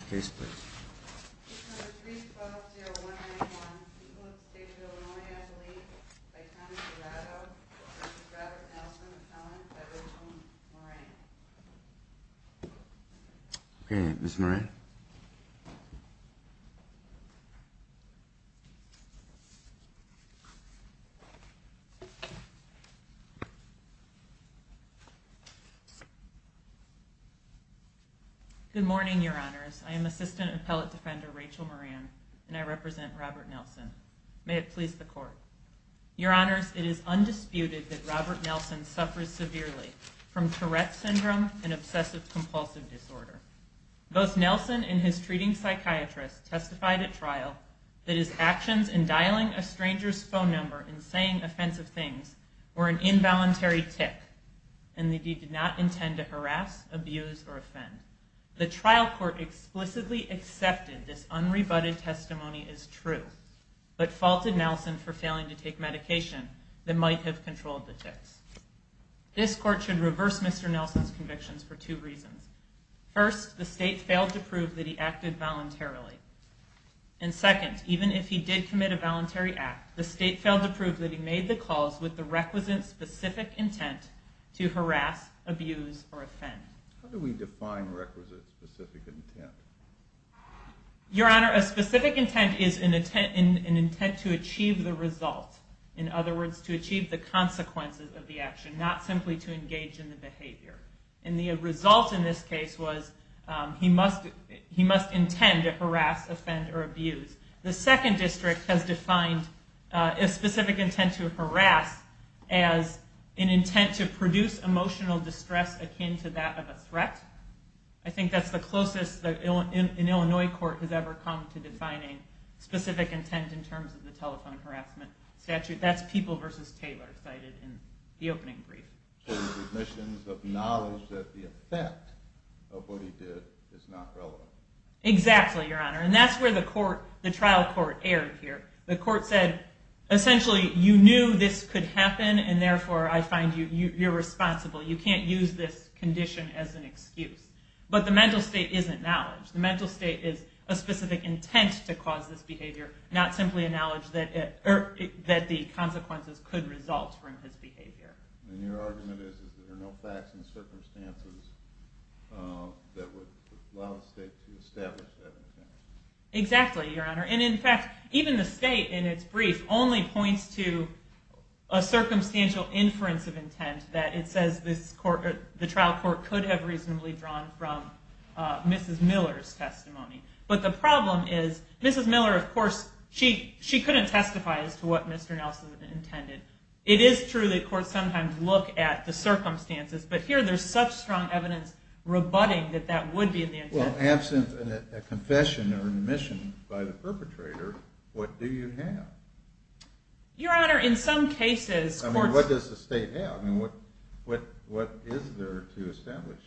Retrieval you're wondering one. Okay, Miss mind. Good morning, your honors. I am assistant appellate defender, Rachel Moran, and I represent Robert Nelson. May it please the court. Your honors, it is undisputed that Robert Nelson suffers severely from Tourette syndrome and obsessive compulsive disorder. Both Nelson and his treating psychiatrist testified at trial that his actions in dialing a stranger's phone number and saying offensive things were an involuntary tick and that he did not intend to harass, abuse, or offend. The trial court explicitly accepted this unrebutted testimony as true, but faulted Nelson for failing to take medication that might have controlled the ticks. This court should reverse Mr. Nelson's convictions for two reasons. First, the state failed to prove that he acted voluntarily. And second, even if he did commit a voluntary act, the state failed to prove that he made the calls with the requisite specific intent to harass, abuse, or offend. How do we define requisite specific intent? Your honor, a specific intent is an intent to achieve the result. In other words, to achieve the consequences of the action, not simply to engage in the behavior. And the result in this case was he must intend to harass, offend, or abuse. The second district has defined a specific intent to harass as an intent to produce emotional distress akin to that of a threat. I think that's the closest an Illinois court has ever come to defining specific intent in terms of the telephone harassment statute. That's People v. Taylor cited in the opening brief. So the admissions of knowledge that the effect of what he did is not relevant. Exactly, your honor. And that's where the trial court erred here. The court said, essentially, you knew this could happen, and therefore, I find you irresponsible. You can't use this condition as an excuse. But the mental state isn't knowledge. The mental state is a specific intent to cause this behavior, not simply a knowledge that the consequences could result from his behavior. And your argument is that there are no facts and circumstances that would allow the state to establish that intent. Exactly, your honor. And in fact, even the state in its brief only points to a circumstantial inference of intent that it says the trial court could have reasonably drawn from Mrs. Miller's testimony. But the problem is Mrs. Miller, of course, she couldn't testify as to what Mr. Nelson intended. It is true that courts sometimes look at the circumstances. But here, there's such strong evidence rebutting that that would be the intent. Well, absent a confession or admission by the perpetrator, what do you have? Your honor, in some cases, courts- I mean, what does the state have? I mean, what is there to establish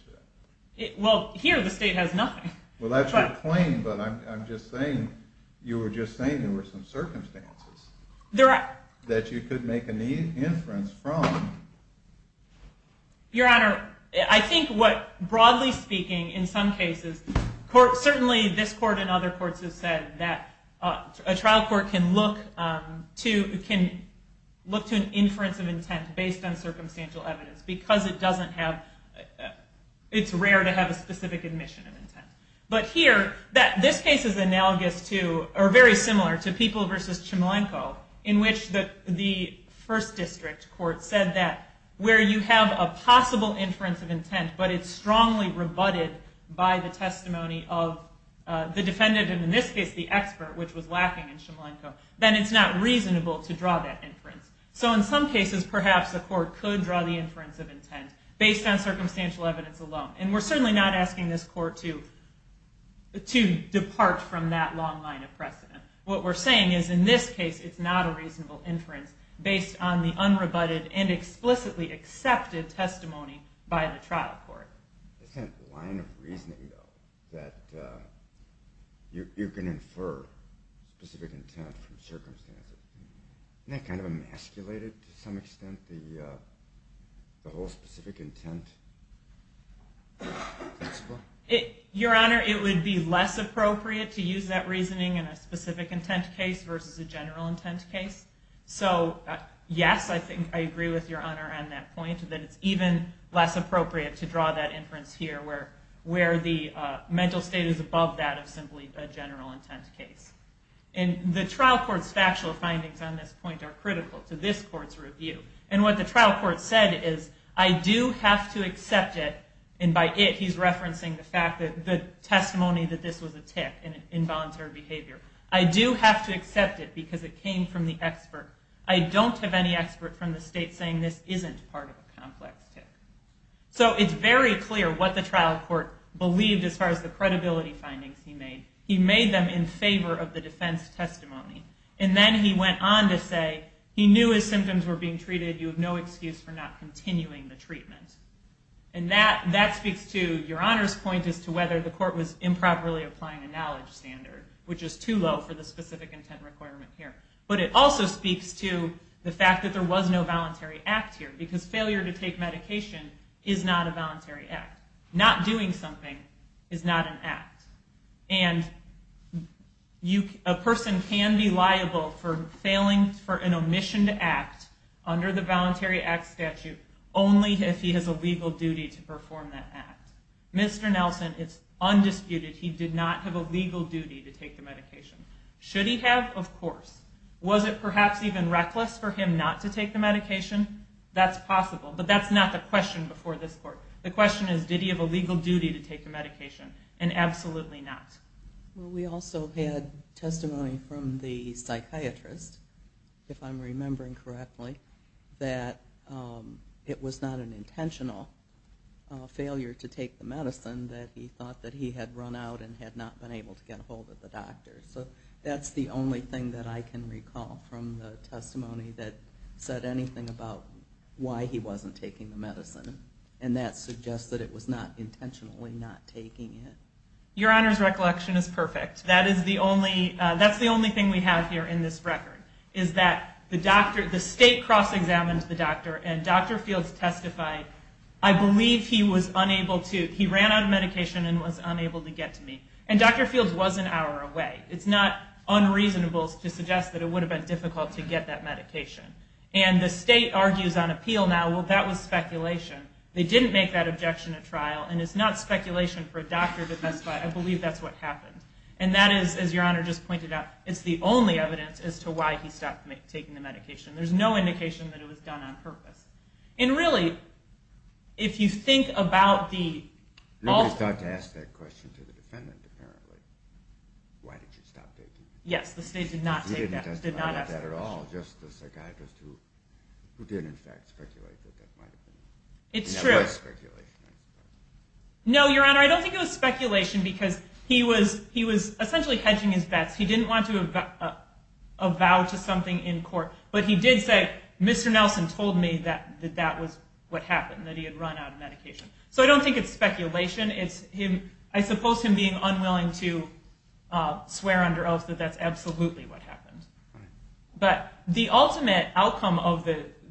that? Well, here, the state has nothing. Well, that's your claim. But I'm just saying, you were just saying there were some circumstances that you could make an inference from. Your honor, I think what, broadly speaking, in some cases, certainly this court and other courts have said that a trial court can look to an inference of intent based on circumstantial evidence because it's rare to have a specific admission of intent. But here, this case is analogous to, or very similar to, People v. Chmielenko, in which the first district court said that where you have a possible inference of intent, but it's strongly rebutted by the testimony of the defendant, and in this case, the expert, which was lacking in Chmielenko, then it's not reasonable to draw that inference. So in some cases, perhaps the court could draw the inference of intent based on circumstantial evidence alone. And we're certainly not asking this court to depart from that long line of precedent. What we're saying is, in this case, it's not a reasonable inference based on the unrebutted and explicitly accepted testimony by the trial court. Isn't that line of reasoning, though, that you can infer specific intent from circumstances? Isn't that kind of emasculated, to some extent, the whole specific intent principle? Your Honor, it would be less appropriate to use that reasoning in a specific intent case versus a general intent case. So yes, I think I agree with Your Honor on that point, that it's even less appropriate to draw that inference here, where the mental state is above that of simply a general intent case. And the trial court's factual findings on this point are critical to this court's review. And what the trial court said is, I do have to accept it, and by it, he's referencing the fact that the testimony that this was a tick in involuntary behavior. I do have to accept it because it came from the expert. I don't have any expert from the state saying this isn't part of a complex tick. So it's very clear what the trial court believed as far as the credibility findings he made. He made them in favor of the defense testimony. And then he went on to say, he knew his symptoms were being treated. You have no excuse for not continuing the treatment. And that speaks to Your Honor's point as to whether the court was improperly applying a knowledge standard, which is too low for the specific intent requirement here. But it also speaks to the fact that there was no voluntary act here, because failure to take medication is not a voluntary act. Not doing something is not an act. And a person can be liable for failing for an omissioned act under the Voluntary Act statute only if he has a legal duty to perform that act. Mr. Nelson, it's undisputed he did not have a legal duty to take the medication. Should he have? Of course. Was it perhaps even reckless for him not to take the medication? That's possible. But that's not the question before this court. The question is, did he have a legal duty to take the medication? And absolutely not. Well, we also had testimony from the psychiatrist, if I'm remembering correctly, that it was not an intentional failure to take the medicine, that he thought that he had run out and had not been able to get a hold of the doctor. So that's the only thing that I can recall from the testimony that said anything about why he wasn't taking the medicine. And that suggests that it was not intentionally not taking it. Your Honor's recollection is perfect. That is the only thing we have here in this record, is that the state cross-examined the doctor. And Dr. Fields testified, I believe he ran out of medication and was unable to get to me. And Dr. Fields was an hour away. It's not unreasonable to suggest that it would have been difficult to get that medication. And the state argues on appeal now, well, that was speculation. They didn't make that objection at trial. And it's not speculation for a doctor to testify. I believe that's what happened. And that is, as Your Honor just pointed out, it's the only evidence as to why he stopped taking the medication. There's no indication that it was done on purpose. And really, if you think about the alternate. Nobody thought to ask that question to the defendant, apparently. Why did you stop taking it? Yes, the state did not take that, did not ask that question. He didn't testify about that at all, just the psychiatrist who did, in fact, speculate that that might have been. It's true. It was speculation, I suppose. No, Your Honor, I don't think it was speculation, because he was essentially hedging his bets. He didn't want to avow to something in court. But he did say, Mr. Nelson told me that that was what happened, that he had run out of medication. So I don't think it's speculation. I suppose him being unwilling to swear under oath that that's absolutely what happened. But the ultimate outcome of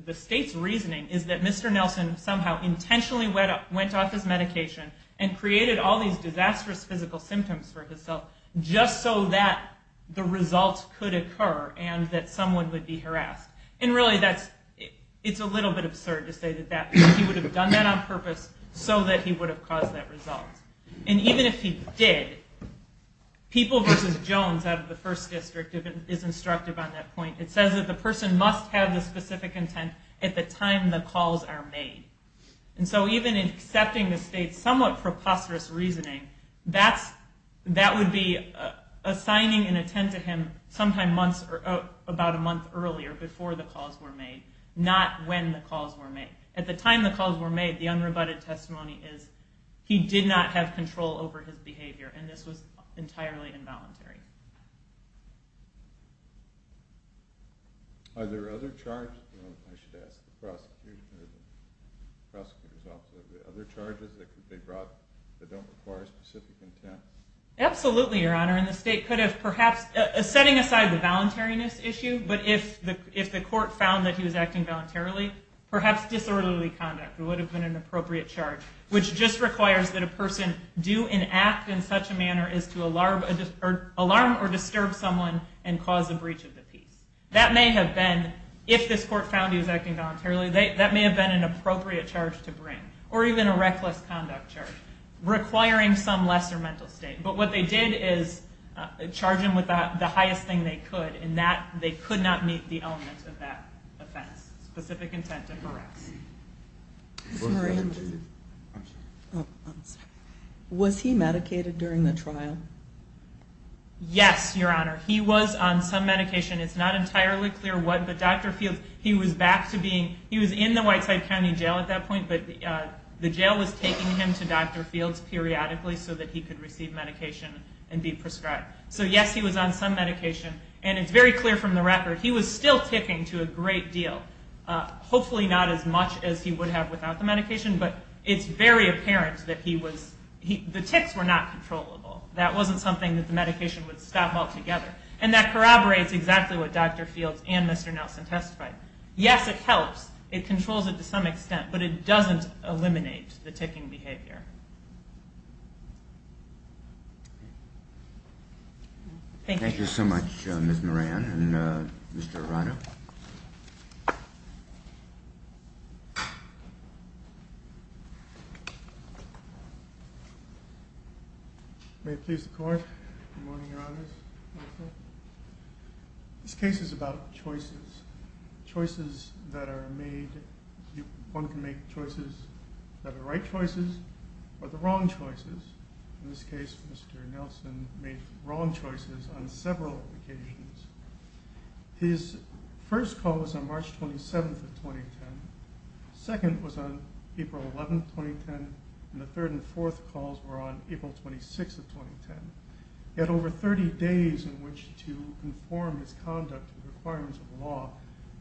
the state's reasoning is that Mr. Nelson somehow intentionally went off his medication and created all these disastrous physical symptoms for himself just so that the results could occur and that someone would be harassed. And really, it's a little bit absurd to say that he would have done that on purpose so that he would have caused that result. And even if he did, people versus Jones out of the First District, if it is instructive on that point, it says that the person must have the specific intent at the time the calls are made. And so even in accepting the state's somewhat preposterous reasoning, that would be assigning an intent to him sometime about a month earlier, before the calls were made, not when the calls were made. At the time the calls were made, the unrebutted testimony is he did not have control over his behavior. And this was entirely involuntary. Are there other charges? I should ask the prosecutor's office. Are there other charges that could be brought that don't require specific intent? Absolutely, Your Honor. And the state could have perhaps, setting aside the voluntariness issue, but if the court found that he was acting voluntarily, perhaps disorderly conduct would have been an appropriate charge, which just requires that a person do and act in such a manner as to alarm or disturb someone and cause a breach of the peace. That may have been, if this court found he was acting voluntarily, that may have been an appropriate charge to bring, or even a reckless conduct charge, requiring some lesser mental state. But what they did is charge him with the highest thing they could, and they could not meet the elements of that offense, specific intent to correct. Was he medicated during the trial? Yes, Your Honor. He was on some medication. It's not entirely clear what, but Dr. Fields, he was back to being, he was in the Whiteside County Jail at that point, but the jail was taking him to Dr. Fields periodically so that he could receive medication and be prescribed. So yes, he was on some medication, and it's very clear from the record, he was still ticking to a great deal. Hopefully not as much as he would have without the medication, but it's very apparent that he was, the ticks were not controllable. That wasn't something that the medication would stop altogether. And that corroborates exactly what Dr. Fields and Mr. Nelson testified. Yes, it helps. It controls it to some extent, but it doesn't eliminate the ticking behavior. Thank you. Thank you so much, Ms. Moran and Mr. Arano. May it please the Court, Good Morning, Your Honors. Good Morning. This case is about choices. Choices that are made, one can make choices that are right choices, or the wrong choices. In this case, Mr. Nelson made wrong choices on several occasions. His first call was on March 27th of 2010. Second was on April 11th, 2010, and the third and fourth calls were on April 26th of 2010. He had over 30 days in which to inform his conduct to the requirements of the law,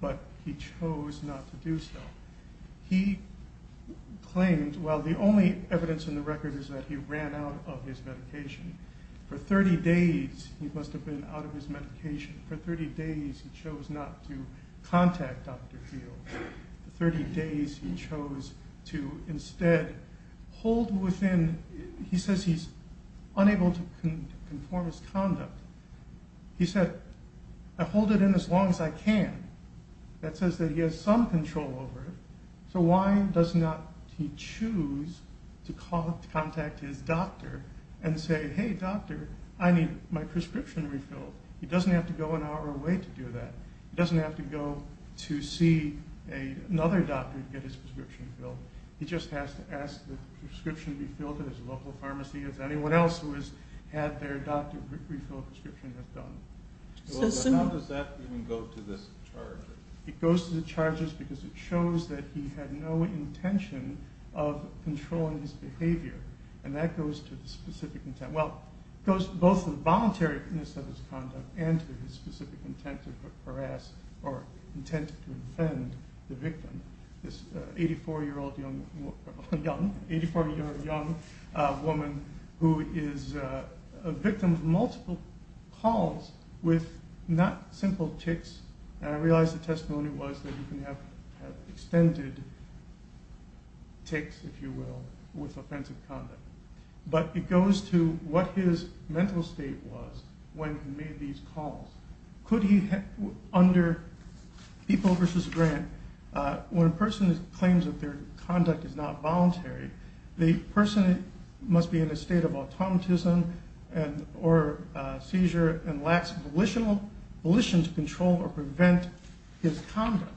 but he chose not to do so. He claimed, while the only evidence in the record is that he ran out of his medication, for 30 days he must have been out of his medication, for 30 days he chose not to contact Dr. Fields, for 30 days he chose to instead hold within, he says he's unable to conform his conduct. He said, I hold it in as long as I can. That says that he has some control over it, so why does not he choose to contact his doctor and say, hey doctor, I need my prescription refilled. He doesn't have to go an hour away to do that. He doesn't have to go to see another doctor to get his prescription filled, he just has to ask for the prescription to be filled at his local pharmacy as anyone else who has had their doctor refill a prescription has done. How does that even go to this charge? It goes to the charges because it shows that he had no intention of controlling his behavior, and that goes to the specific intent. Well, it goes to both the voluntariness of his conduct and to his specific intent to harass, or intent to offend the victim. This 84-year-old young woman who is a victim of multiple calls with not simple tics, and I realize the testimony was that you can have extended tics, if you will, with offensive conduct. But it goes to what his mental state was when he made these calls. Could he, under people versus grant, when a person claims that their conduct is not voluntary, the person must be in a state of automatism or seizure and lacks volition to control or prevent his conduct.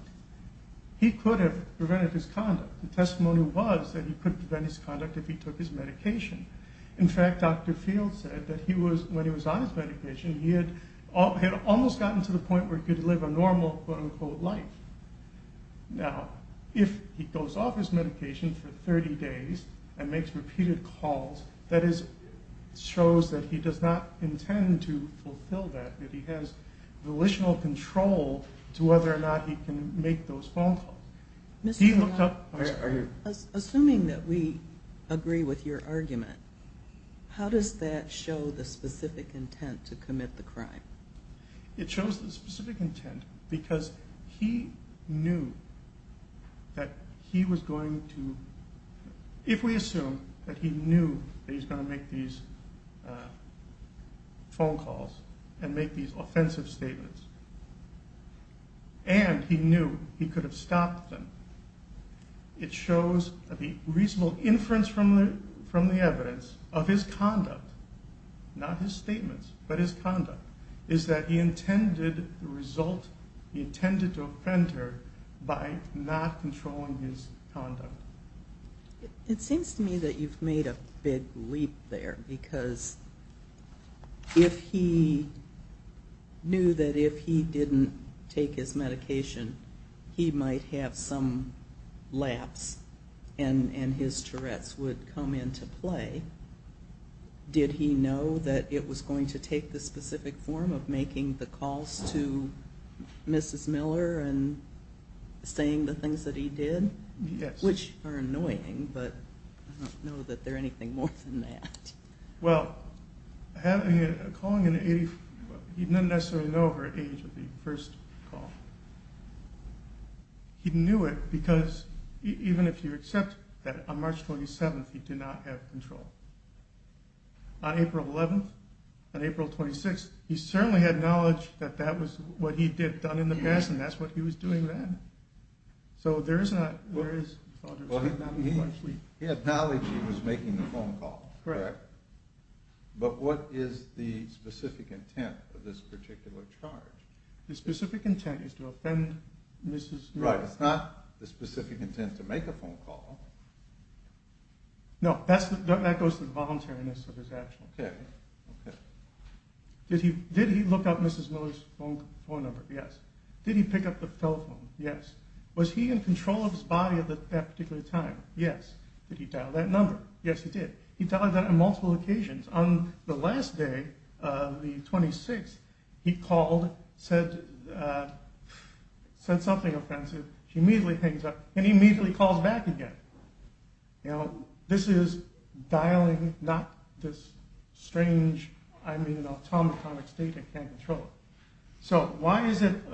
He could have prevented his conduct. The testimony was that he could prevent his conduct if he took his medication. In fact, Dr. Field said that when he was on his medication, he had almost gotten to the point where he could live a normal, quote-unquote, life. Now, if he goes off his medication for 30 days and makes repeated calls, that shows that he does not intend to fulfill that, that he has volitional control to whether or not he can make those phone calls. He looked up, I'm sorry. Assuming that we agree with your argument, how does that show the specific intent to commit the crime? It shows the specific intent because he knew that he was going to, if we assume that he knew that he's gonna make these phone calls and make these offensive statements, and he knew he could have stopped them, it shows that the reasonable inference from the evidence of his conduct, not his statements, but his conduct, is that he intended the result, he intended to offend her by not controlling his conduct. It seems to me that you've made a big leap there because if he knew that if he didn't take his medication, he might have some lapse and his Tourette's would come into play, did he know that it was going to take the specific form of making the calls to Mrs. Miller and saying the things that he did? Which are annoying, but I don't know that they're anything more than that. Well, having a calling in the, he didn't necessarily know her age at the first call. He knew it because even if you accept that on March 27th, he did not have control. On April 11th, on April 26th, he certainly had knowledge that that was what he did, done in the past, and that's what he was doing then. So there is not, there is, I don't know. He had knowledge he was making the phone call. Correct. But what is the specific intent of this particular charge? The specific intent is to offend Mrs. Miller. Right, it's not the specific intent to make a phone call. No, that goes to the voluntariness of his action. Okay, okay. Did he look up Mrs. Miller's phone number? Yes. Did he pick up the telephone? Yes. Was he in control of his body at that particular time? Yes. Did he dial that number? Yes, he did. He dialed that on multiple occasions. On the last day, the 26th, he called, said something offensive, he immediately hangs up, and he immediately calls back again. This is dialing, not this strange, I mean, an automatic state, I can't control it. So why is it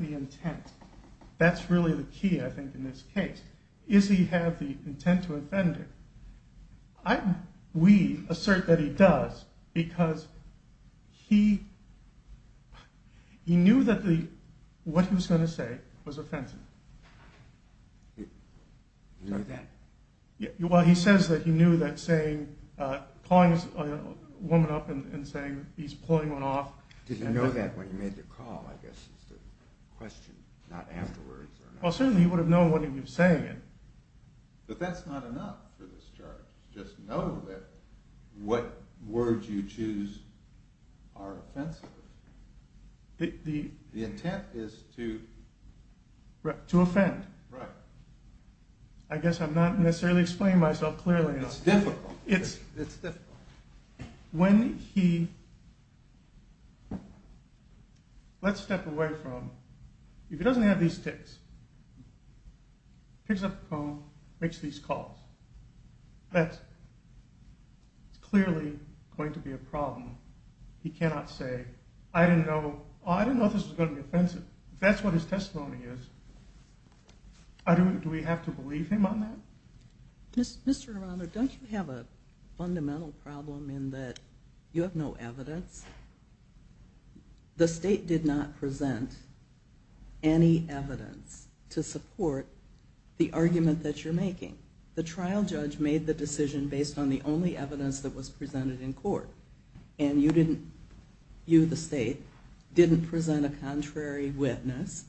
the intent? That's really the key, I think, in this case. Does he have the intent to offend her? I, we, assert that he does, because he knew that what he was gonna say was offensive. You knew that? Well, he says that he knew that saying, calling a woman up and saying he's pulling one off. Did he know that when he made the call, I guess is the question, not afterwards or not? Well, certainly he would've known what he was saying. But that's not enough for this charge, just know that what words you choose are offensive. The intent is to... To offend. Right. I guess I'm not necessarily explaining myself clearly enough. It's difficult, it's difficult. When he, let's step away from, if he doesn't have these tics, picks up the phone, makes these calls, that's clearly going to be a problem. He cannot say, I didn't know, oh, I didn't know this was gonna be offensive. If that's what his testimony is, do we have to believe him on that? Mr. Aranda, don't you have a fundamental problem in that you have no evidence? The state did not present any evidence. To support the argument that you're making. The trial judge made the decision based on the only evidence that was presented in court. And you didn't, you, the state, didn't present a contrary witness.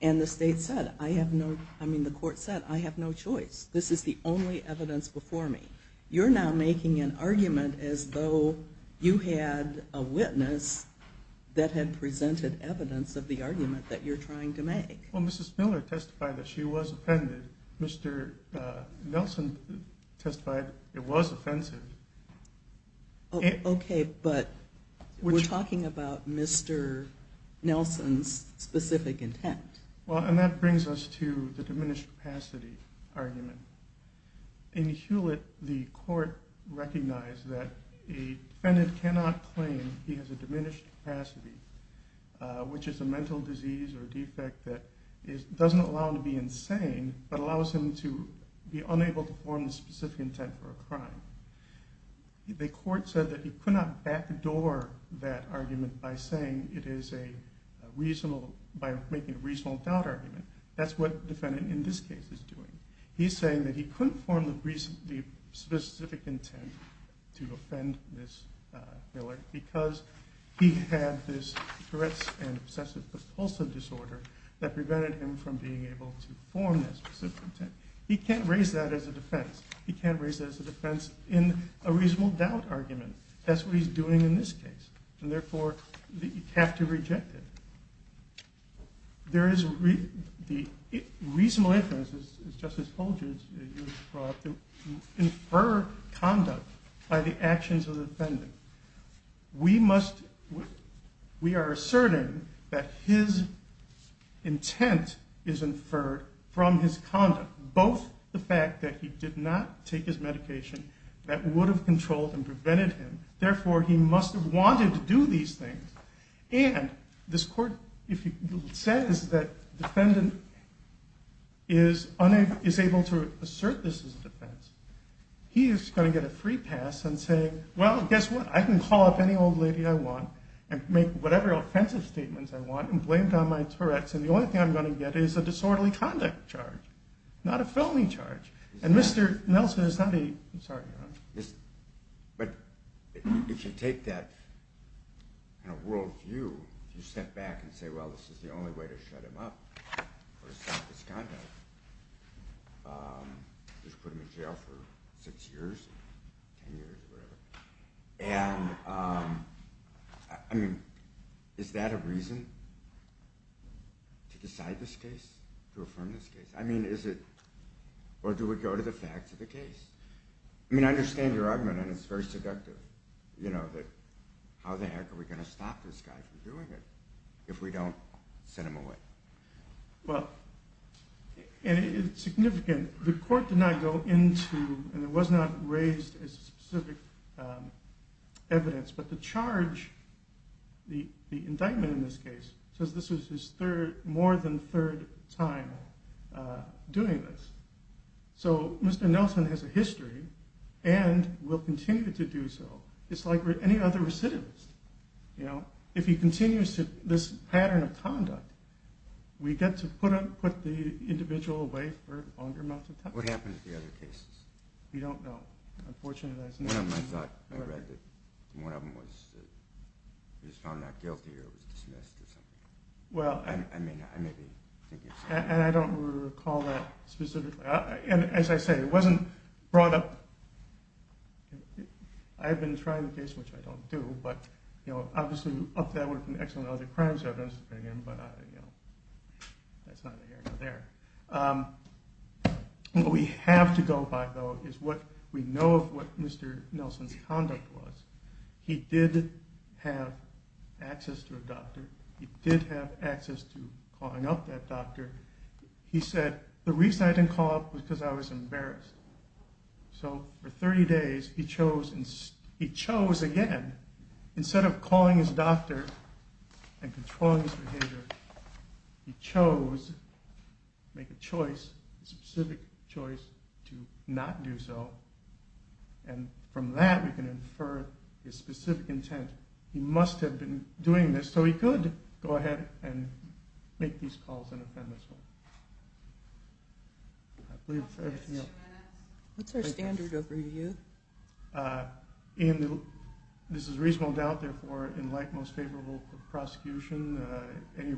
And the state said, I have no, I mean, the court said, I have no choice. This is the only evidence before me. You're now making an argument as though you had a witness that had presented evidence of the argument that you're trying to make. Well, Mrs. Miller testified that she was offended. Mr. Nelson testified it was offensive. Okay, but we're talking about Mr. Nelson's specific intent. Well, and that brings us to the diminished capacity argument. In Hewlett, the court recognized that a defendant cannot claim he has a diminished capacity, which is a mental disease or defect that doesn't allow him to be insane, but allows him to be unable to form the specific intent for a crime. The court said that he could not backdoor that argument by saying it is a reasonable, by making a reasonable doubt argument. That's what the defendant in this case is doing. He's saying that he couldn't form the specific intent to offend Ms. Miller because he had this threats and obsessive compulsive disorder that prevented him from being able to form that specific intent. He can't raise that as a defense. He can't raise that as a defense in a reasonable doubt argument. That's what he's doing in this case. And therefore, you have to reject it. There is, the reasonable inference is, Justice Holdren's use brought to infer conduct by the actions of the defendant. We must, we are asserting that his intent is inferred from his conduct, both the fact that he did not take his medication that would have controlled and prevented him. Therefore, he must have wanted to do these things. And this court, if it says that defendant is able to assert this as a defense, he is going to get a free pass and say, well, guess what, I can call up any old lady I want and make whatever offensive statements I want and blame it on my Tourette's. And the only thing I'm going to get is a disorderly conduct charge, not a felony charge. And Mr. Nelson is not a, I'm sorry. But if you take that in a world view, you step back and say, well, this is the only way to shut him up or stop his conduct. Just put him in jail for six years, 10 years, whatever. And I mean, is that a reason to decide this case, to affirm this case? I mean, is it, or do we go to the facts of the case? I mean, I understand your argument, and it's very seductive, you know, that how the heck are we going to stop this guy from doing it if we don't send him away? Well, and it's significant. The court did not go into, and it was not raised as specific evidence, but the charge, the indictment in this case, says this was his third, more than third time doing this. So Mr. Nelson has a history and will continue to do so. It's like any other recidivist, you know. This pattern of conduct, we get to put the individual away for longer amounts of time. What happened to the other cases? We don't know. Unfortunately, there's no- One of them, I thought, I read that one of them was, was found not guilty or was dismissed or something. Well- I mean, I may be thinking- And I don't recall that specifically. And as I say, it wasn't brought up. I've been trying the case, which I don't do, but, you know, obviously, up there were some excellent other crimes that I've been in, but, you know, that's not here, not there. What we have to go by, though, is what we know of what Mr. Nelson's conduct was. He did have access to a doctor. He did have access to calling up that doctor. He said, the reason I didn't call up was because I was embarrassed. So for 30 days, he chose, he chose again, instead of calling his doctor and controlling his behavior, he chose to make a choice, a specific choice, to not do so. And from that, we can infer his specific intent. He must have been doing this, so he could go ahead and make these calls in a feminist way. I believe that's everything else. What's our standard of review? Ian, this is reasonable doubt, therefore, in like most favorable prosecution, any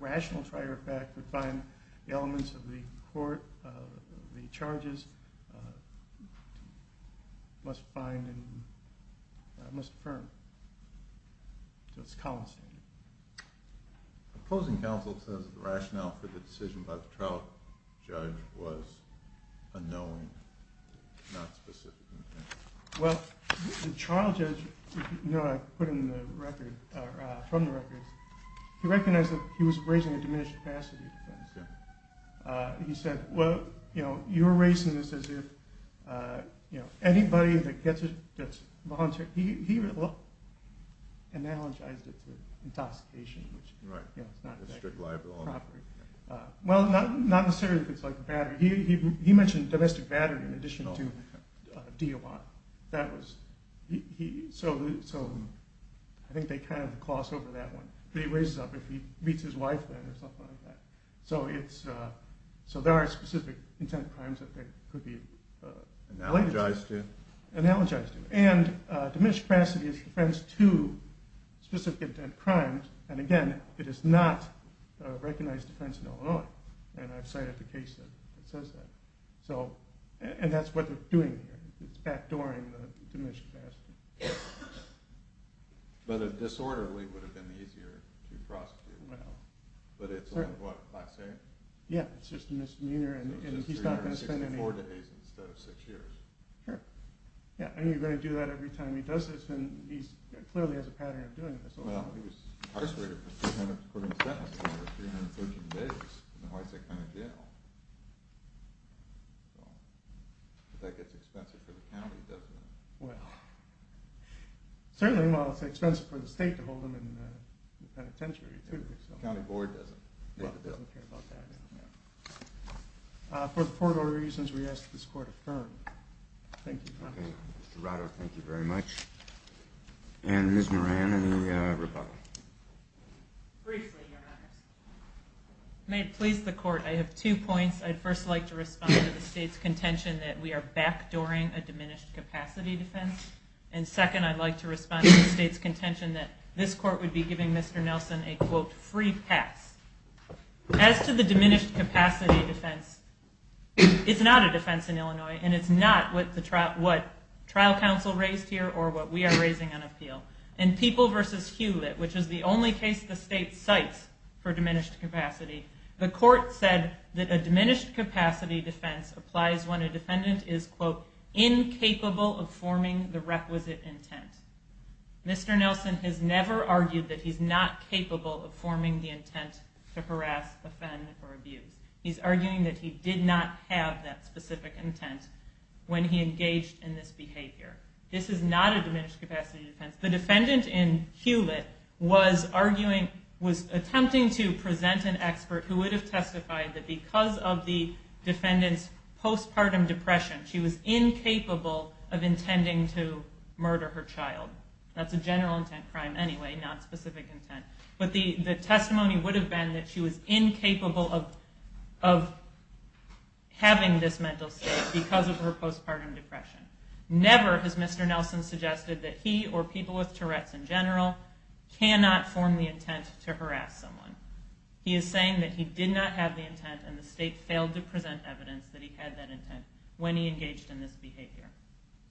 rational trier of fact would find the elements of the court, the charges, must find and must affirm. So it's a common standard. The opposing counsel says the rationale for the decision by the trial judge was a knowing, not specific intent. Well, the trial judge, if you know, I put in the record, from the records, he recognized that he was raising a diminished capacity defense. He said, well, you know, you're raising this as if, you know, anybody that gets a volunteer, he analogized it to intoxication, which, you know, it's not a strict law of the property. Well, not necessarily if it's like battery. He mentioned domestic battery in addition to DOI. That was, so I think they kind of cross over that one. He raises up if he meets his wife then, or something like that. So it's, so there are specific intent crimes that there could be related to. Analogized to? Analogized to. And diminished capacity is defense to specific intent crimes. And again, it is not a recognized defense in Illinois. And I've cited the case that says that. So, and that's what they're doing here. It's backdooring the diminished capacity. But a disorderly would have been easier to prosecute. Well. But it's a lot of what, class A? Yeah, it's just a misdemeanor, and he's not gonna spend any. So just three years, 64 days instead of six years. Sure. Yeah, and you're gonna do that every time he does this, and he clearly has a pattern of doing this. Well, he was incarcerated for 300, for him to sentence him for 313 days. And why is that kind of jail? So, that gets expensive for the county, doesn't it? Well. Certainly, well, it's expensive for the state to hold him in the penitentiary, too. County board doesn't. Well, it doesn't care about that, yeah. For the portable reasons we asked, this court affirmed. Thank you, Your Honor. Okay, Mr. Rado, thank you very much. And Ms. Moran, any rebuttal? Briefly, Your Honors. May it please the court, I have two points. I'd first like to respond to the state's contention that we are backdooring a diminished capacity defense. And second, I'd like to respond to the state's contention that this court would be giving Mr. Nelson a, quote, free pass. As to the diminished capacity defense, it's not a defense in Illinois, and it's not what trial counsel raised here or what we are raising on appeal. In People v. Hewlett, which is the only case the state cites for diminished capacity, the court said that a diminished capacity defense applies when a defendant is, quote, incapable of forming the requisite intent. Mr. Nelson has never argued that he's not capable of forming the intent to harass, offend, or abuse. He's arguing that he did not have that specific intent when he engaged in this behavior. This is not a diminished capacity defense. The defendant in Hewlett was arguing, was attempting to present an expert who would have testified that because of the defendant's postpartum depression, she was incapable of intending to murder her child. That's a general intent crime anyway, not specific intent. But the testimony would have been that she was incapable of having this mental state because of her postpartum depression. Never has Mr. Nelson suggested that he or people with Tourette's in general cannot form the intent to harass someone. He is saying that he did not have the intent and the state failed to present evidence that he had that intent when he engaged in this behavior.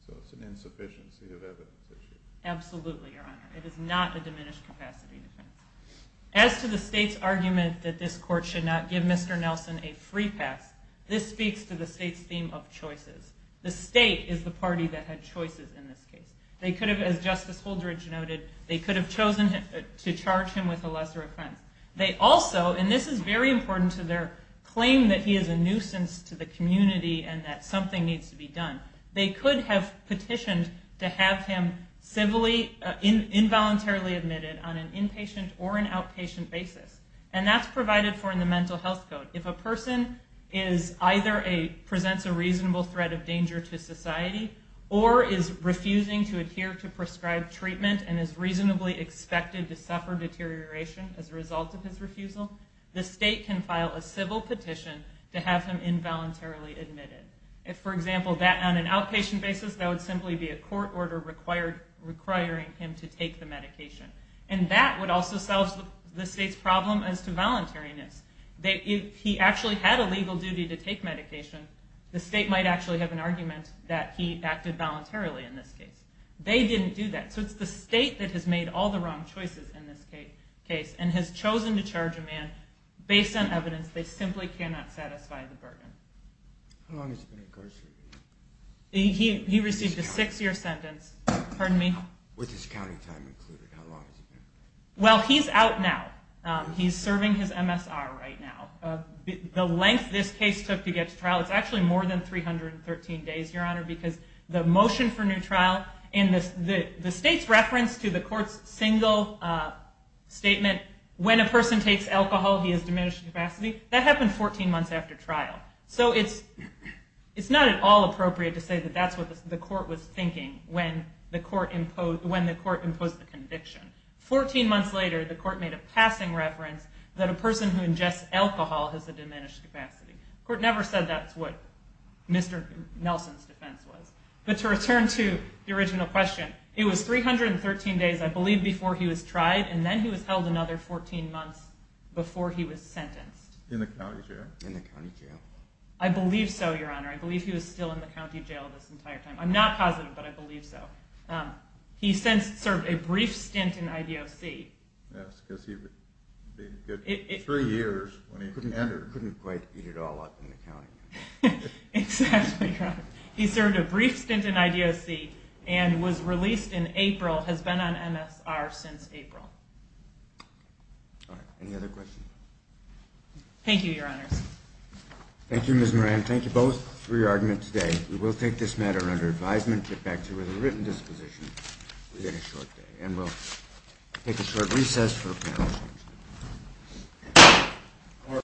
So it's an insufficiency of evidence issue. Absolutely, Your Honor. It is not a diminished capacity defense. As to the state's argument that this court should not give Mr. Nelson a free pass, this speaks to the state's theme of choices. The state is the party that had choices in this case. They could have, as Justice Holdredge noted, they could have chosen to charge him with a lesser offense. They also, and this is very important to their claim that he is a nuisance to the community and that something needs to be done, they could have petitioned to have him civilly involuntarily admitted on an inpatient or an outpatient basis. And that's provided for in the mental health code. If a person presents a reasonable threat of danger to society or is refusing to adhere to prescribed treatment and is reasonably expected to suffer deterioration as a result of his refusal, the state can file a civil petition to have him involuntarily admitted. If, for example, that on an outpatient basis, that would simply be a court order requiring him to take the medication. And that would also solve the state's problem as to voluntariness. If he actually had a legal duty to take medication, the state might actually have an argument that he acted voluntarily in this case. They didn't do that. So it's the state that has made all the wrong choices in this case and has chosen to charge a man based on evidence they simply cannot satisfy the burden. How long has he been incarcerated? He received a six-year sentence. Pardon me? With his county time included, how long has he been? Well, he's out now. He's serving his MSR right now. The length this case took to get to trial, it's actually more than 313 days, Your Honor, because the motion for new trial and the state's reference to the court's single statement, when a person takes alcohol, he has diminished capacity, that happened 14 months after trial. So it's not at all appropriate to say that that's what the court was thinking when the court imposed the conviction. 14 months later, the court made a passing reference that a person who ingests alcohol has a diminished capacity. Court never said that's what Mr. Nelson's defense was. But to return to the original question, it was 313 days, I believe, before he was tried. And then he was held another 14 months before he was sentenced. In the county jail? In the county jail. I believe so, Your Honor. I believe he was still in the county jail this entire time. I'm not positive, but I believe so. He since served a brief stint in IDOC. Yes, because he'd been good for three years when he entered. Couldn't quite eat it all up in the county. Exactly, Your Honor. He served a brief stint in IDOC and was released in April, has been on MSR since April. All right. Any other questions? Thank you, Your Honors. Thank you, Ms. Moran. Thank you both for your argument today. We will take this matter under advisement, get back to you with a written disposition within a short day. And we'll take a short recess for panel discussion.